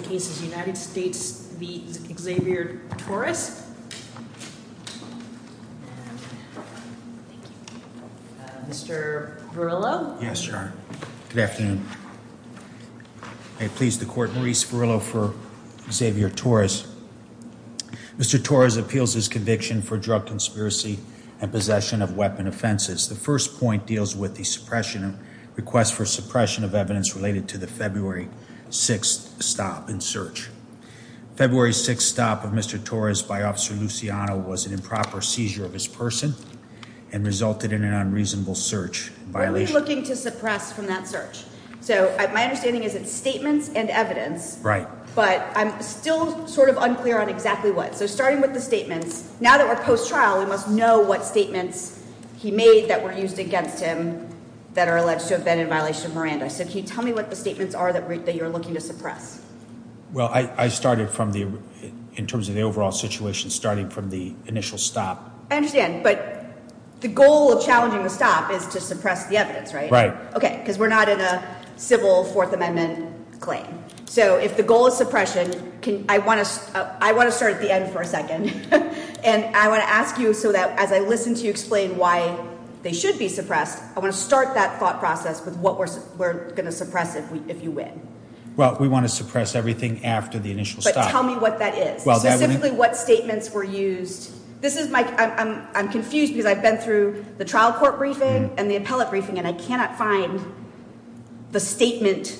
the case is United States v. Xavier Torres. Mr. Verrillo. Yes, your honor. Good afternoon. I please the court Maurice Verrillo for Xavier Torres. Mr. Torres appeals his conviction for drug conspiracy and possession of weapon offenses. The first point deals with the suppression request for suppression of evidence related to the February 6th stop in search. February 6th stop of Mr. Torres by officer Luciano was an improper seizure of his person and resulted in an unreasonable search violation. What are we looking to suppress from that search? So my understanding is it's statements and evidence. Right. But I'm still sort of unclear on exactly what. So starting with the statements now that we're post trial we must know what statements he made that were used against him that are Miranda. So can you tell me what the statements are that you're looking to suppress? Well, I started from the in terms of the overall situation, starting from the initial stop. I understand. But the goal of challenging the stop is to suppress the evidence, right? Right. Okay. Because we're not in a civil Fourth Amendment claim. So if the goal is suppression, I want to I want to start at the end for a second and I want to ask you so that as I listen to explain why they should be suppressed. I want to start that thought process with what we're we're going to suppress it if you win. Well, we want to suppress everything after the initial stop. Tell me what that is specifically what statements were used. This is my I'm confused because I've been through the trial court briefing and the appellate briefing and I cannot find the statement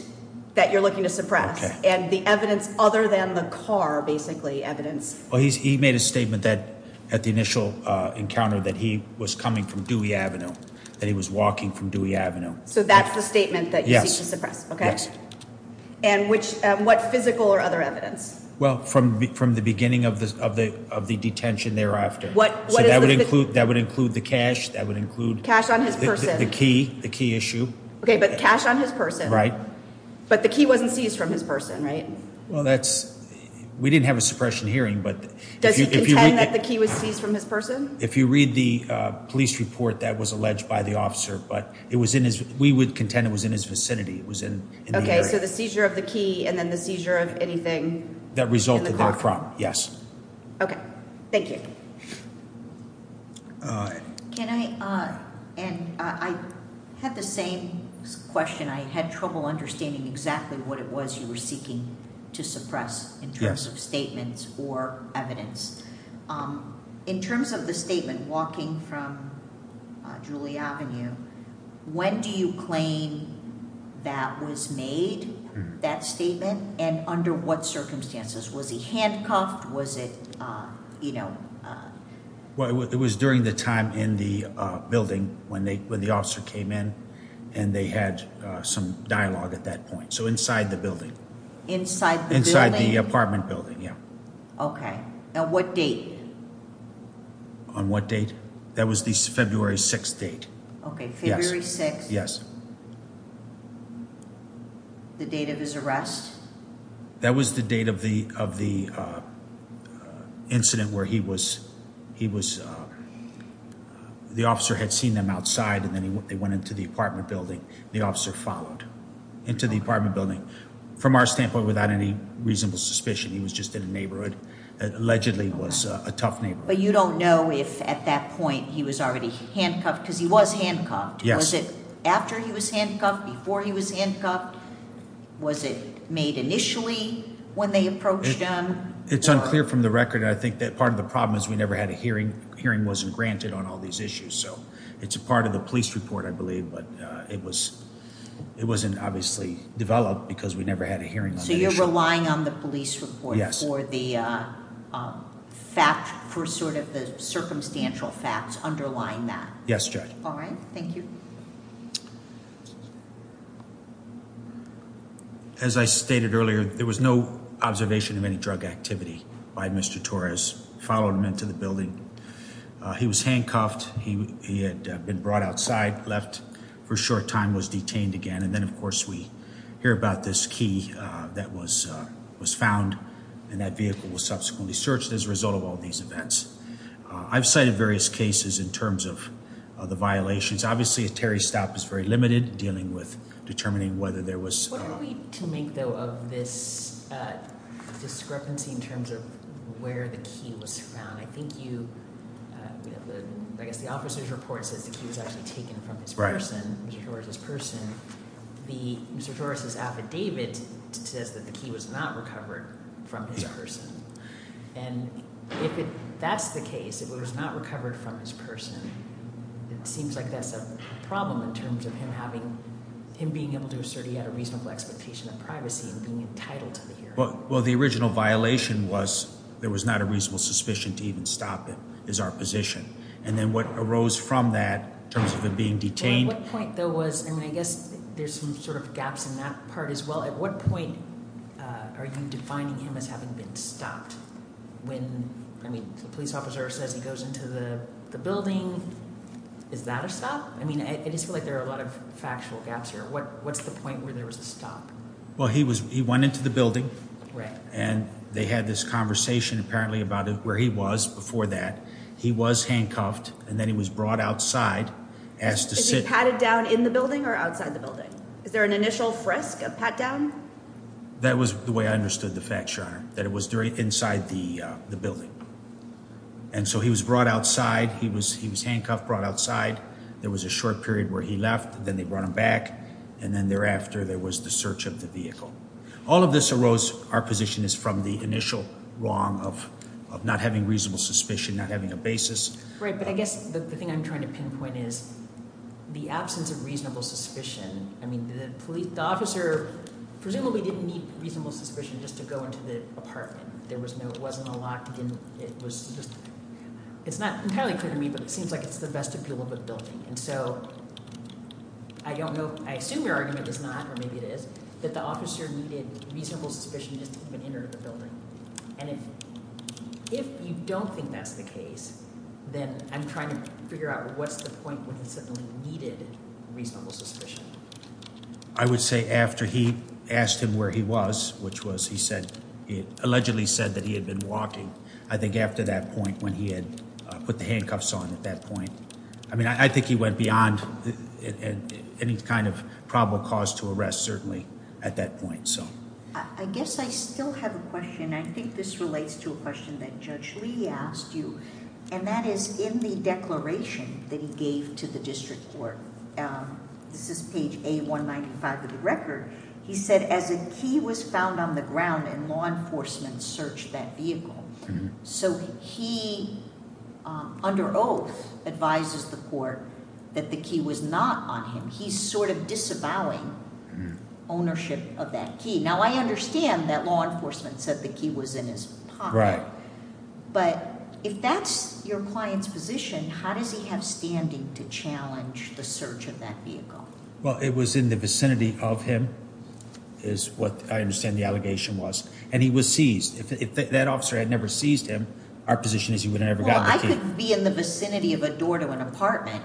that you're looking to suppress and the evidence other than the car basically evidence. He made a statement that at the initial encounter that he was coming from Dewey Avenue that he was walking from Dewey Avenue. So that's the statement that you suppress. Okay. And which what physical or other evidence? Well, from from the beginning of the of the of the detention thereafter, what that would include, that would include the cash that would include cash on his person, the key, the key issue. Okay, but cash on his person, right? But the key wasn't seized from his person, right? Well, that's we didn't have a suppression hearing. But does he pretend that the was seized from his person? If you read the police report that was alleged by the officer, but it was in his, we would contend it was in his vicinity. It was in. Okay, so the seizure of the key and then the seizure of anything that resulted in a problem. Yes. Okay, thank you. Uh, can I, uh, and I had the same question. I had trouble understanding exactly what it was you were seeking to suppress in terms of statements or evidence. Um, in terms of the statement walking from julie Avenue, when do you claim that was made that statement? And under what circumstances was he handcuffed? Was it, uh, you know, uh, well, it was during the time in the building when they, when the officer came in and they had some dialogue at that point. So inside the building inside inside the apartment building. Yeah. Okay. Now what date on what date? That was the February 6th date. Okay. February six. Yes. The date of his arrest. That was the date of the, of the, uh, incident where he was, he was, uh, the officer had seen them outside and then they went into the apartment building. The officer followed into the apartment building from our standpoint without any reasonable suspicion. He was just in a neighborhood that allegedly was a tough neighborhood. But you don't know if at that point he was already handcuffed because he was handcuffed. Was it after he was handcuffed before he was handcuffed? Was it made initially when they approached him? It's unclear from the record. I think that part of the problem is we never had a hearing. Hearing wasn't granted on all these issues. So it's a part of the police report, I believe. But it was, it wasn't obviously developed because we never had a hearing. So you're relying on the police report for the, uh, fact for sort of the circumstantial facts underlying that. Yes, Judge. All right. Thank you. As I stated earlier, there was no observation of any drug activity by Mr Torres followed him into the building. He was handcuffed. He had been brought outside, left for short time, was detained again. And then, of course, we hear about this key that was was found and that vehicle was subsequently searched as a result of all these events. I've cited various cases in terms of the violations. Obviously, a Terry stop is very limited, dealing with determining whether there was to make, though, of this, uh, discrepancy in terms of where the key was found. I think you, uh, I guess the officer's report says that he was actually taken from his person, his person. The Mr Torres's affidavit says that the key was not recovered from his person. And if that's the case, if it was not recovered from his person, it seems like that's a problem in terms of him having him being able to assert he had a reasonable expectation of privacy and being entitled. Well, the original violation was there was not a reasonable suspicion to even stop it is our position. And then what arose from that terms of being detained point there was, I mean, I guess there's some sort of gaps in that part as well. At what point are you defining him as having been stopped? When I mean, the police officer says he goes into the building. Is that a stop? I mean, I just feel like there are a lot of factual gaps here. What? What's the point where there was a stop? Well, he was. He went into the building, and they had this conversation apparently about where he was before that he was handcuffed, and then he was brought outside as to sit patted down in the building or outside the building. Is there an initial frisk pat down? That was the way I understood the fact that it was during inside the building, and so he was brought outside. He was. He was handcuffed, brought outside. There was a short period where he left, then they brought him back. And then thereafter, there was the search of the vehicle. All of this arose. Our position is from the initial wrong of not having reasonable suspicion, not having a basis. Right. But I guess the thing I'm trying to pinpoint is the absence of reasonable suspicion. I mean, the police officer presumably didn't need reasonable suspicion just to go into the apartment. There was no. It wasn't a lot. It was just it's not entirely clear to me, but it seems like it's the best to be a little bit building. And so I don't know. I assume your argument is not or maybe it is that the officer needed reasonable suspicion just to enter the building. And if if you don't think that's the case, then I'm trying to figure out what's the point when it certainly needed reasonable suspicion. I would say after he asked him where he was, which was, he said, allegedly said that he had been walking. I think after that point, when he had put the handcuffs on at that point, I mean, I think he went beyond any kind of probable cause to arrest. Certainly at that point. So I guess I still have a question. I think this relates to a question that Judge Lee asked you, and that is in the declaration that he gave to the district court. This is page a 1 95 of the record, he said, as a key was found on the ground and law enforcement searched that vehicle. So he under oath advises the court that the key was not on him. He's sort of disavowing ownership of that key. Now, I understand that law enforcement said that he was in his right. But if that's your client's position, how does he have standing to challenge the search of that vehicle? Well, it was in the vicinity of him is what I understand the allegation was, and he was seized. If that officer had never seized him, our position is he would never be in the vicinity of a door to an apartment,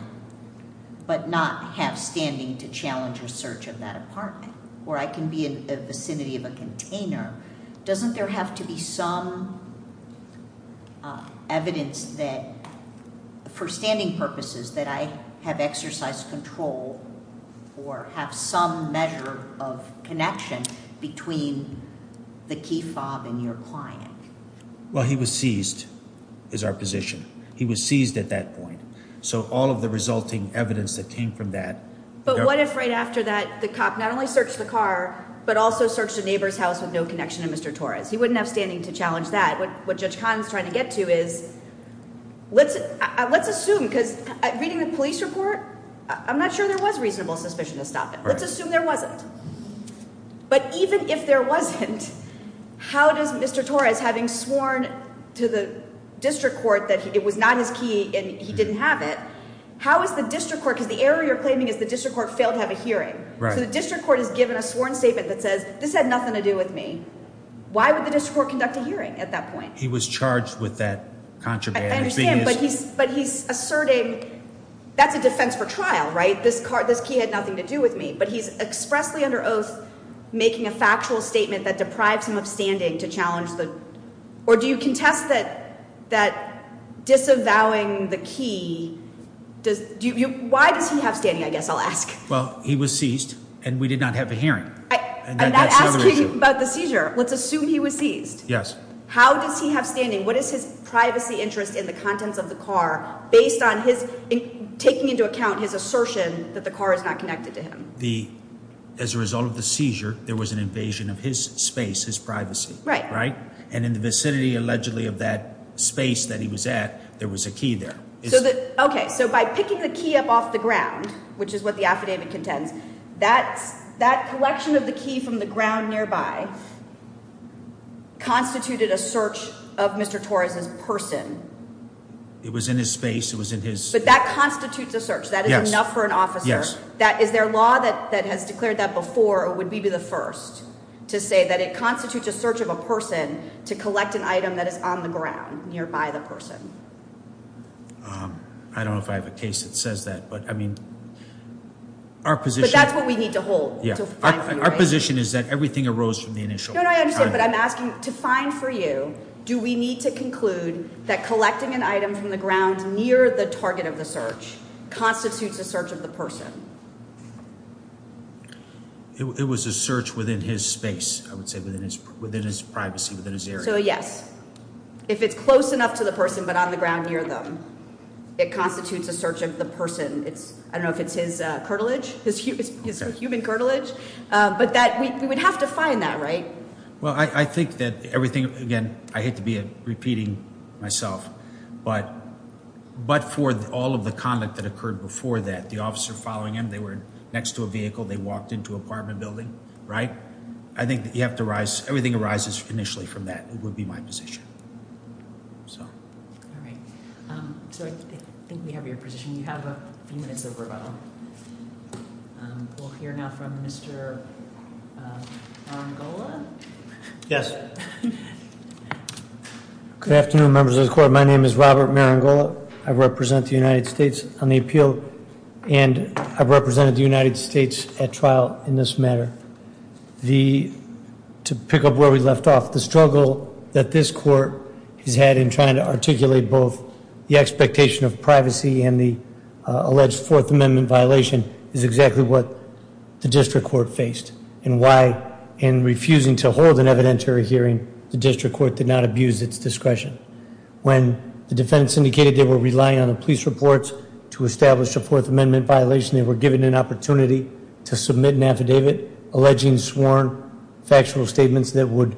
but not have standing to challenge your search of that apartment where I can be in the vicinity of a container. Doesn't there have to be some evidence that for standing purposes that I have exercised control or have some measure of connection between the key fob and your client? Well, he was seized is our position. He was seized at that point. So all of the resulting evidence that came from that. But what if right after that, the cop not only searched the car, but also searched a neighbor's house with no connection to Mr Torres. He wouldn't have standing to challenge that. What? What? Judge Kahn's trying to get to is let's let's assume because reading the police report, I'm not sure there was reasonable suspicion to stop it. Let's assume there wasn't. But even if there wasn't, how does Mr Torres, having sworn to the district court that it was not his key and he didn't have it. How is the district court? Because the area you're claiming is the district court failed to have a hearing. So the district court has given a sworn statement that says this had nothing to do with me. Why would the district conduct a hearing at that point? He was charged with that contraband, but he's asserting that's a defense for trial, right? This car, this key had nothing to do with me, but he's expressly under oath, making a factual statement that deprives him of standing to challenge the or do you contest that that disavowing the key? Does you? Why does he have standing? I guess I'll ask. Well, he was seized and we did not have a hearing. I'm not asking about the seizure. Let's assume he was seized. Yes. How does he have standing? What is his privacy interest in the contents of the car based on his taking into account his assertion that the car is not connected to him? The as a result of the seizure, there was an invasion of his space, his privacy, right? And in the vicinity, allegedly of that space that he was at, there was a key there. Okay, so by picking the key up off the ground, which is what the affidavit contends, that's that collection of the key from the ground nearby constituted a search of Mr Torres's person. It was in his space. It was in his. But that constitutes a search. That is enough for an officer. That is their law that that has declared that before it would be the first to say that it constitutes a search of a person to collect an item that is on the ground nearby the person. Um, I don't know if I have a case that says that, but I mean, our position, that's what we need to hold. Our position is that everything arose from the initial. I understand. But I'm asking to find for you. Do we need to conclude that collecting an item from the ground near the target of search constitutes a search of the person? It was a search within his space. I would say within his within his privacy within his area. So, yes, if it's close enough to the person, but on the ground near them, it constitutes a search of the person. It's I don't know if it's his cartilage, his human cartilage, but that we would have to find that right. Well, I think that everything again, I hate to be a repeating myself, but but for all of the conduct that occurred before that the officer following him, they were next to a vehicle. They walked into apartment building, right? I think that you have to rise. Everything arises initially from that would be my position. All right. Um, so I think we have your position. You have a few minutes of rebuttal. We'll hear now from Mr. Angola. Yes. Good afternoon, members of the court. My name is Robert Maringola. I represent the United States on the appeal, and I've represented the United States at trial in this matter. The to pick up where we left off the struggle that this court has had in trying to articulate both the expectation of privacy and the alleged Fourth Amendment violation is exactly what the district court faced and why in refusing to hold an evidentiary hearing, the district court did not abuse its discretion. When the defense indicated they were relying on the police reports to establish a Fourth Amendment violation, they were given an opportunity to submit an affidavit alleging sworn factual statements that would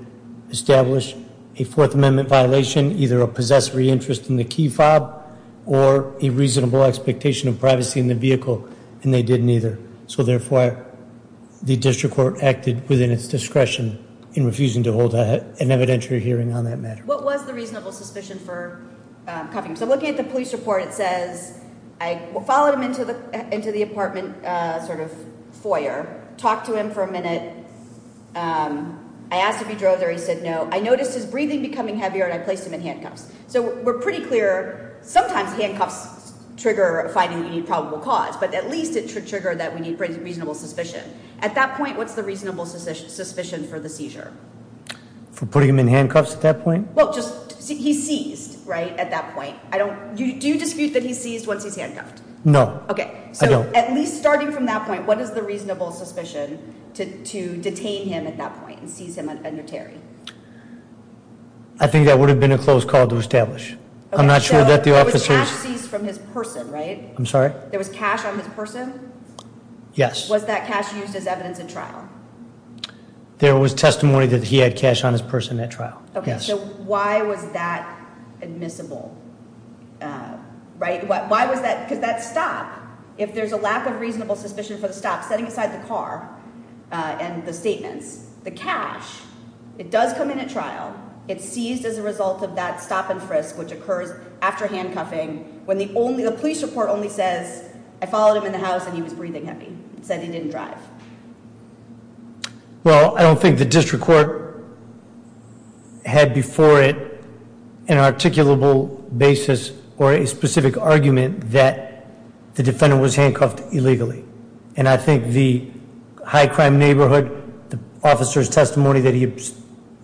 establish a Fourth Amendment violation, either a possessory interest in the key fob or a reasonable expectation of privacy in the vehicle, and they didn't either. So therefore, the district court acted within its discretion in refusing to hold an evidentiary hearing on that matter. What was the reasonable suspicion for coming? So looking at the police report, it says I followed him into the into the apartment sort of foyer. Talk to him for a minute. I asked if he drove there. He said no. I noticed his breathing becoming heavier, and I placed him in handcuffs. So we're pretty clear. Sometimes handcuffs trigger finding the probable cause, but at least it should trigger that we need reasonable suspicion. At that point, what's the reasonable suspicion suspicion for the seizure? For putting him in handcuffs at that point? Well, just he seized right at that point. I don't. Do you dispute that he sees once he's handcuffed? No. Okay, so at least starting from that point, what is the reasonable suspicion to detain him at that point and seize him an evidentiary? I think that would have been a close call to establish. I'm not sure that from his person, right? I'm sorry. There was cash on his person. Yes. Was that cash used as evidence in trial? There was testimony that he had cash on his person at trial. Okay, so why was that admissible? Right. Why was that? Because that stop if there's a lack of reasonable suspicion for the stop setting aside the car on the statements, the cash it does come in a trial. It seized as a result of that stop and frisk, which occurs after handcuffing. When the only the police report only says I followed him in the house and he was breathing heavy, said he didn't drive. Well, I don't think the district court had before it an articulable basis or a specific argument that the defendant was handcuffed illegally. And I think the high crime neighborhood officers testimony that he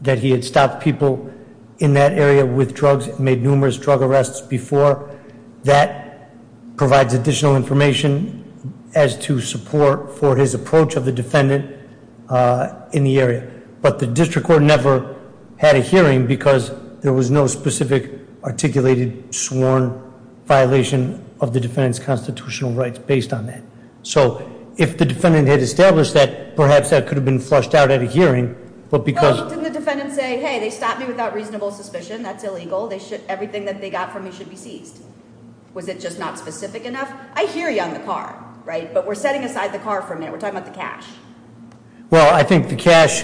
that he had stopped people in that area with drugs made numerous drug arrests before that provides additional information as to support for his approach of the defendant, uh, in the area. But the district court never had a hearing because there was no specific articulated sworn violation of the defendant's constitutional rights based on that. So if the defendant had established that, perhaps that could have been flushed out at a hearing. But because the defendant say, Hey, they without reasonable suspicion, that's illegal. They should everything that they got from you should be seized. Was it just not specific enough? I hear you on the car, right? But we're setting aside the car for a minute. We're talking about the cash. Well, I think the cash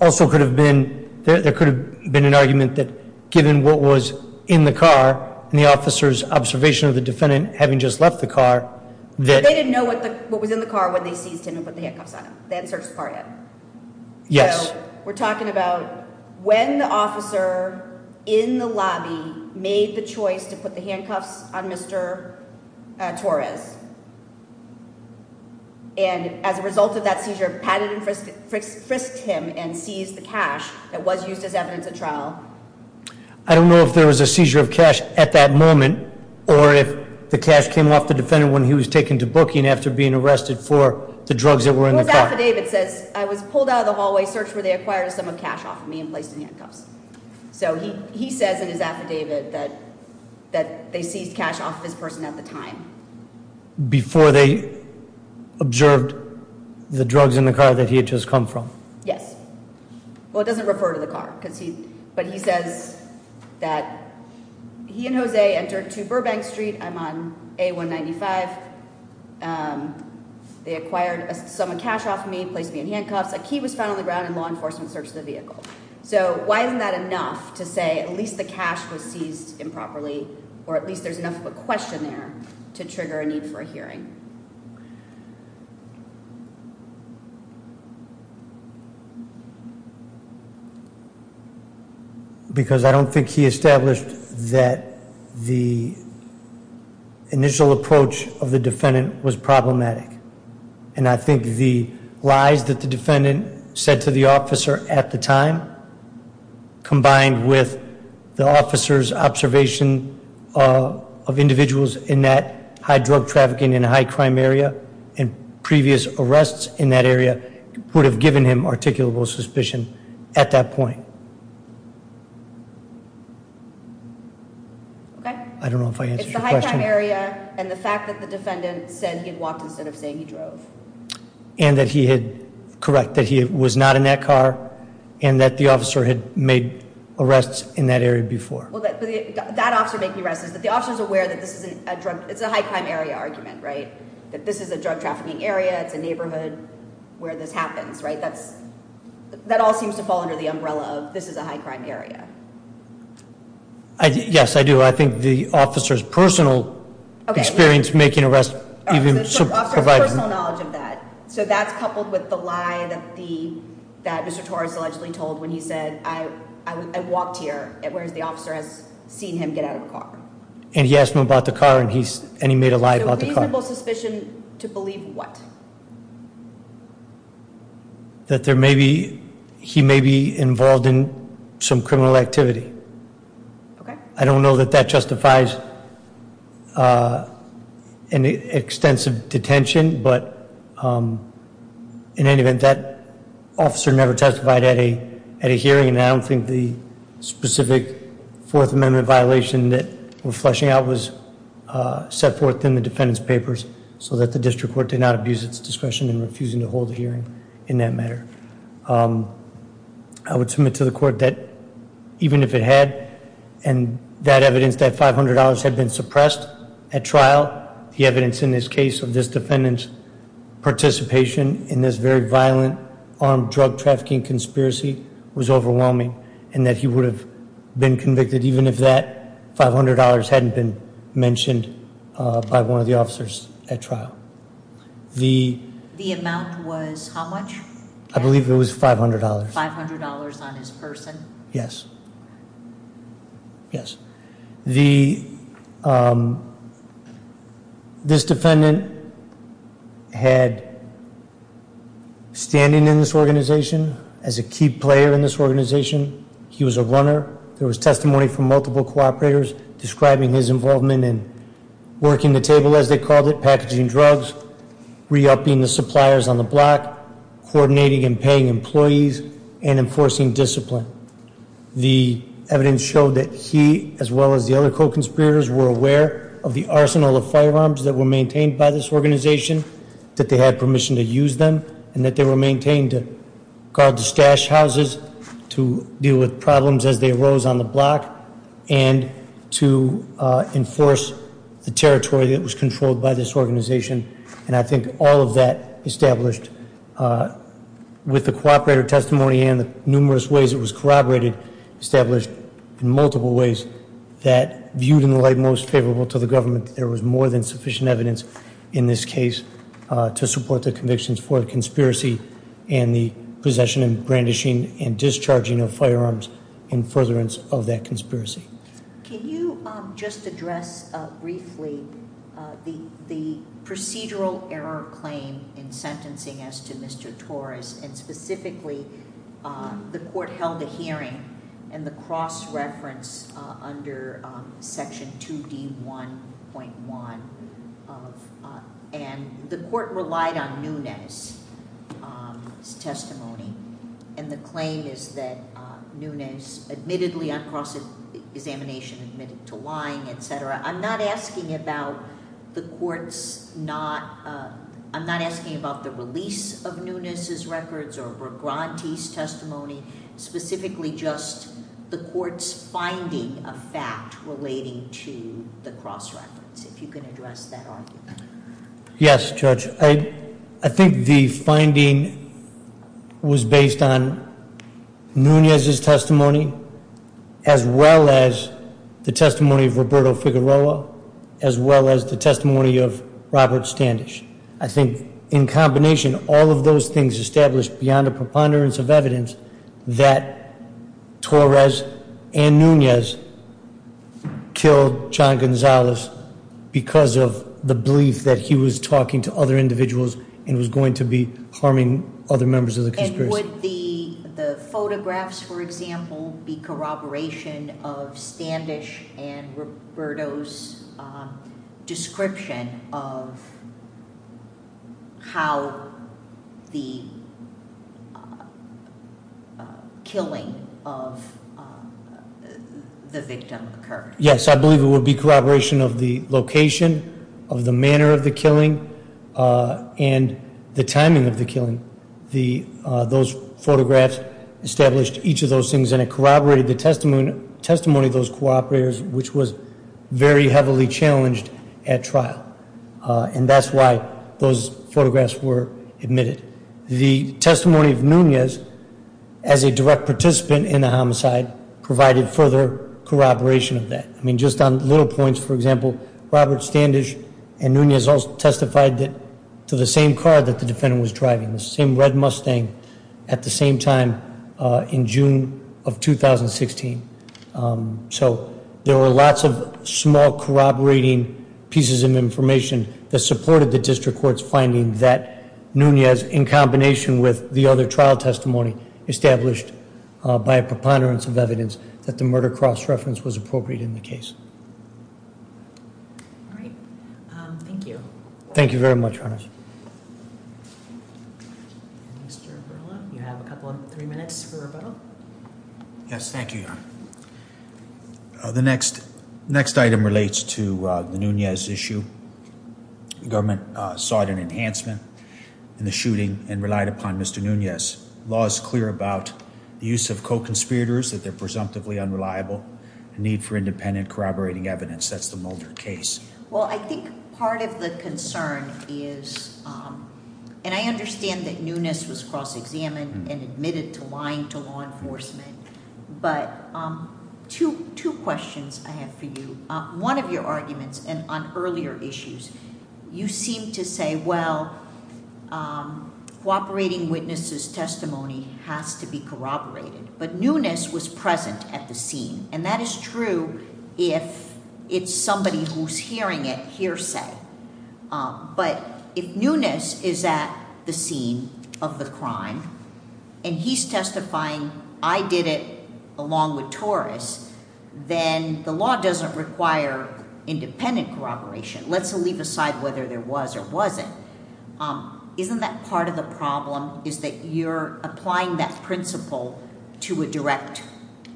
also could have been there could have been an argument that given what was in the car and the officer's observation of the defendant having just left the car that they didn't know what what was in the car when they seized him and put the handcuffs on that search party. Yes, we're talking about when the officer in the lobby made the choice to put the handcuffs on Mr Torres and as a result of that seizure, patted and frisked, frisked him and seized the cash that was used as evidence of trial. I don't know if there was a seizure of cash at that moment or if the cash came off the defendant when he was taken to looking after being arrested for the drugs that were in the affidavit says I was pulled out of the hallway search where they acquired some of cash off of me and placed in handcuffs. So he says in his affidavit that that they seized cash off this person at the time before they observed the drugs in the car that he had just come from. Yes. Well, it doesn't refer to the car because he but he says that he and Jose entered to Burbank Street. I'm on a 1 95. Um, they acquired some cash off me, placed me in handcuffs. A key was found on the ground in law enforcement search the vehicle. So why isn't that enough to say at least the cash was seized improperly or at least there's enough of a question there to trigger a need for a hearing. Because I don't think he established that the initial approach of the defendant was problematic. And I think the lies that the defendant said to the officer at the time, combined with the officer's observation of individuals in that high drug trafficking in high crime area and previous arrests in that area would have given him articulable suspicion at that point. Mhm. Okay. I don't know if I answered the question area and the fact that the defendant said he had walked instead of saying he drove and that he had correct that he was not in that car and that the officer had made arrests in that area before that officer making arrests is that the officers aware that this is a drug. It's a high crime area argument, right? That this is a drug trafficking area. It's a neighborhood where this happens, right? That's that all seems to under the umbrella of this is a high crime area. Yes, I do. I think the officer's personal experience making arrest even provide personal knowledge of that. So that's coupled with the lie that the that Mr Torres allegedly told when he said I walked here, whereas the officer has seen him get out of the car and he asked him about the car and he's and he made a lie about the car suspicion to believe what That there may be. He may be involved in some criminal activity. Okay. I don't know that that justifies an extensive detention. But, um, in any event, that officer never testified at a at a hearing. And I don't think the specific Fourth Amendment violation that we're fleshing out was set forth in the defendant's papers so that the court did not abuse its discretion in refusing to hold a hearing in that matter. Um, I would submit to the court that even if it had and that evidence that $500 had been suppressed at trial, the evidence in this case of this defendant's participation in this very violent armed drug trafficking conspiracy was overwhelming and that he would have been convicted even if that $500 hadn't been mentioned by one of the officers at trial. The amount was how much? I believe it was $500. $500 on his person. Yes. Yes. The, um, this defendant had standing in this organization as a key player in this organization. He was a runner. There was testimony from multiple cooperators describing his involvement in working the table as they called it, packaging drugs, re upping the suppliers on the block, coordinating and paying employees and enforcing discipline. The evidence showed that he, as well as the other co conspirators, were aware of the arsenal of firearms that were maintained by this organization, that they had permission to use them and that they were maintained to guard the stash houses to deal with problems as they was on the block and to enforce the territory that was controlled by this organization. And I think all of that established, uh, with the cooperator testimony and the numerous ways it was corroborated, established in multiple ways that viewed in the light most favorable to the government. There was more than sufficient evidence in this case to support the convictions for conspiracy and the possession and brandishing and discharging of firearms and furtherance of that conspiracy. Can you just address briefly the procedural error claim in sentencing as to Mr Torres and specifically, uh, the court held a hearing and the cross reference under Section two d 1.1. Uh, and the court relied on newness, um, testimony. And the claim is that newness admittedly on cross examination admitted to lying, etcetera. I'm not asking about the court's not. I'm not asking about the release of newness is records or grantees testimony, specifically just the court's finding a fact relating to the cross reference. If you could address that. Yes, Judge. I think the finding was based on Nunez is testimony as well as the testimony of Roberto Figueroa, as well as the testimony of Robert Standish. I think in combination, all of those things established beyond a preponderance of that Torres and Nunez killed John Gonzalez because of the belief that he was talking to other individuals and was going to be harming other members of the conspiracy. The photographs, for example, be corroboration of Standish and Roberto's, uh, description of how the killing of the victim occurred. Yes, I believe it would be corroboration of the location of the manner of the killing. Uh, and the timing of the killing. The those photographs established each of those things, and it corroborated the testimony testimony of those cooperators, which was very heavily challenged at trial. And that's why those photographs were admitted. The as a direct participant in the homicide provided further corroboration of that. I mean, just on little points, for example, Robert Standish and Nunez also testified that to the same car that the defendant was driving the same red Mustang at the same time in June of 2016. Um, so there were lots of small corroborating pieces of information that supported the district court's finding that Nunez, in combination with the other trial testimony established by a preponderance of evidence that the murder cross reference was appropriate in the case. Right. Thank you. Thank you very much. You have a couple of three minutes for Yes. Thank you. The next next item relates to the Nunez issue. Government sought an enhancement in the shooting and relied upon Mr Nunez. Law is clear about the use of co conspirators that they're presumptively unreliable need for independent corroborating evidence. That's the Mulder case. Well, I think part of the concern is, um, and I understand that Nunez was cross examined and admitted to lying to law enforcement. But, um, two questions I have for you. One of your arguments and on earlier issues, you seem to say, well, um, cooperating witnesses testimony has to be corroborated. But Nunez was present at the scene, and that is true if it's somebody who's hearing it hearsay. But if Nunez is that the scene of the And he's testifying. I did it along with Taurus. Then the law doesn't require independent corroboration. Let's leave aside whether there was or wasn't. Um, isn't that part of the problem is that you're applying that principle to a direct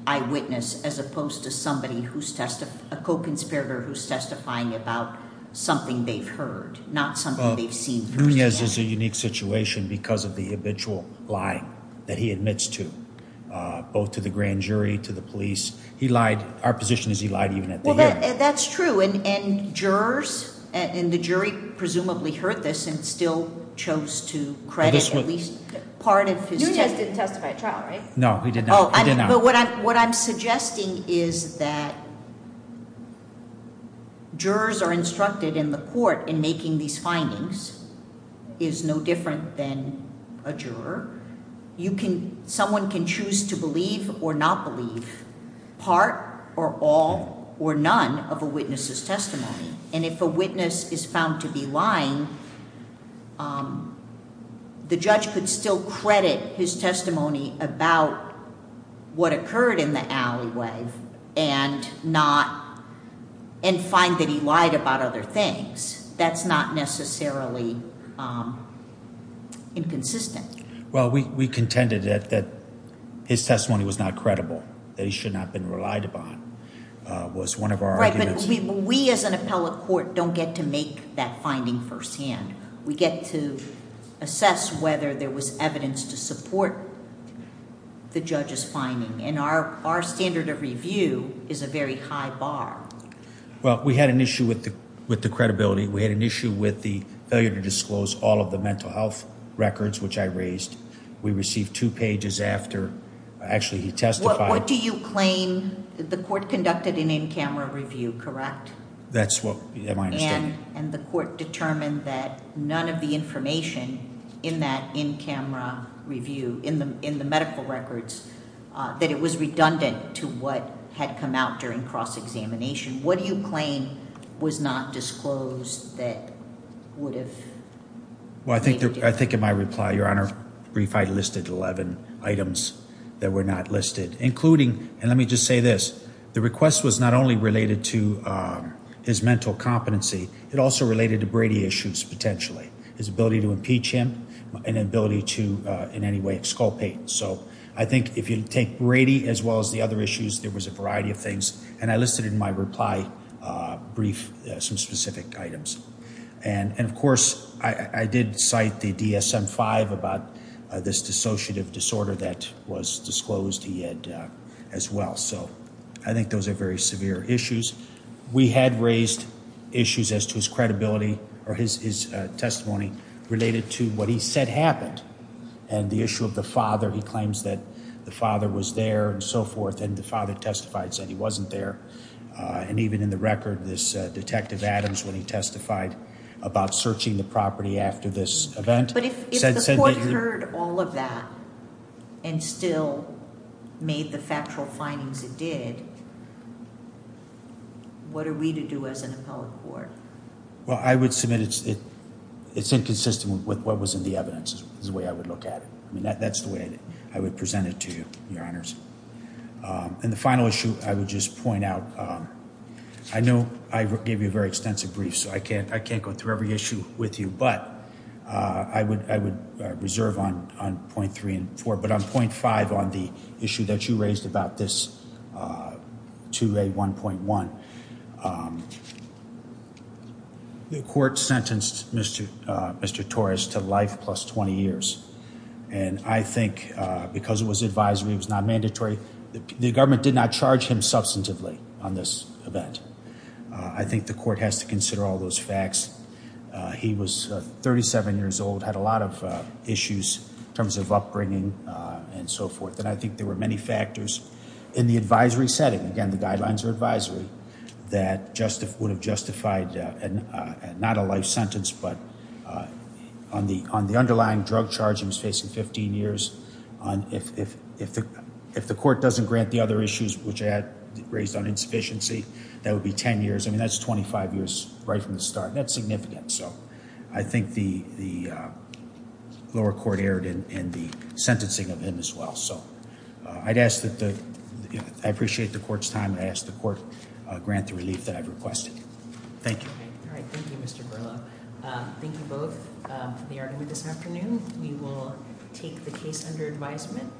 eyewitness as opposed to somebody who's tested a co conspirator who's testifying about something they've heard, not something Nunez is a unique situation because of the habitual lie that he admits to both to the grand jury to the police. He lied. Our position is he lied even at the end. That's true. And jurors and the jury presumably heard this and still chose to credit at least part of his testify trial. Right? No, he did. No. But what I'm what I'm suggesting is that jurors are instructed in the court in making these findings is no different than a juror. You can. Someone can choose to believe or not believe part or all or none of a witness's testimony. And if a witness is found to be lying, um, the judge could still credit his testimony about what occurred in the alleyway and not and find that he lied about other things. That's not necessarily, um, inconsistent. Well, we contended that that his testimony was not credible, that he should not have been relied upon was one of our arguments. We as an appellate court don't get to make that finding firsthand. We get to assess whether there was evidence to support the judge's finding. And our our standard of review is a very high bar. Well, we had an issue with the credibility. We had an issue with the failure to disclose all of the mental health records, which I raised. We received two pages after actually he testified. What do you claim? The court conducted an in camera review, correct? That's what my understanding. And the court determined that none of the information in that in camera review in the in that it was redundant to what had come out during cross examination. What do you claim was not disclosed that would have? Well, I think I think in my reply, your honor, brief, I listed 11 items that were not listed, including and let me just say this. The request was not only related to his mental competency. It also related to Brady issues. Potentially his ability to teach him an ability to in any way exculpate. So I think if you take Brady as well as the other issues, there was a variety of things. And I listed in my reply brief some specific items. And of course, I did cite the DSM five about this dissociative disorder that was disclosed. He had as well. So I think those are very severe issues. We had raised issues as to his credibility or his testimony related to what he said happened. And the issue of the father, he claims that the father was there and so forth. And the father testified said he wasn't there. And even in the record, this detective Adams, when he testified about searching the property after this event, heard all of that and still made the factual findings it did. What are we to do as an appellate court? Well, I would submit it. It's inconsistent with what was in the evidence is the way I would look at it. I mean, that's the way I would present it to you, Your Honors. Um, and the final issue I would just point out. Um, I know I gave you a very extensive brief, so I can't I can't go through every issue with you. But, uh, I would I would reserve on on 0.3 and four, but I'm 0.5 on the issue that you raised about this, uh, to a 1.1. Um, the court sentenced Mr Mr Torres to life plus 20 years. And I think because it was advisory, it was not mandatory. The government did not charge him substantively on this event. I think the court has to consider all those facts. He was 37 years old, had a lot of issues in terms of upbringing and so forth. And I think there were many factors in the advisory setting. Again, the guidelines are advisory that just would have justified and not a life sentence. But, uh, on the on the underlying drug charge, he was facing 15 years on if the court doesn't grant the other issues which had raised on insufficiency, that would be 10 years. I mean, that's 25 years right from the start. That's significant. So I think the lower court erred in the sentencing of him as well. So I'd ask that I appreciate the court's time. I asked the court grant the relief that I've requested. Thank you. All right. Thank you, Mr Burlow. Thank you both for the argument this afternoon. We will take the case under advisement.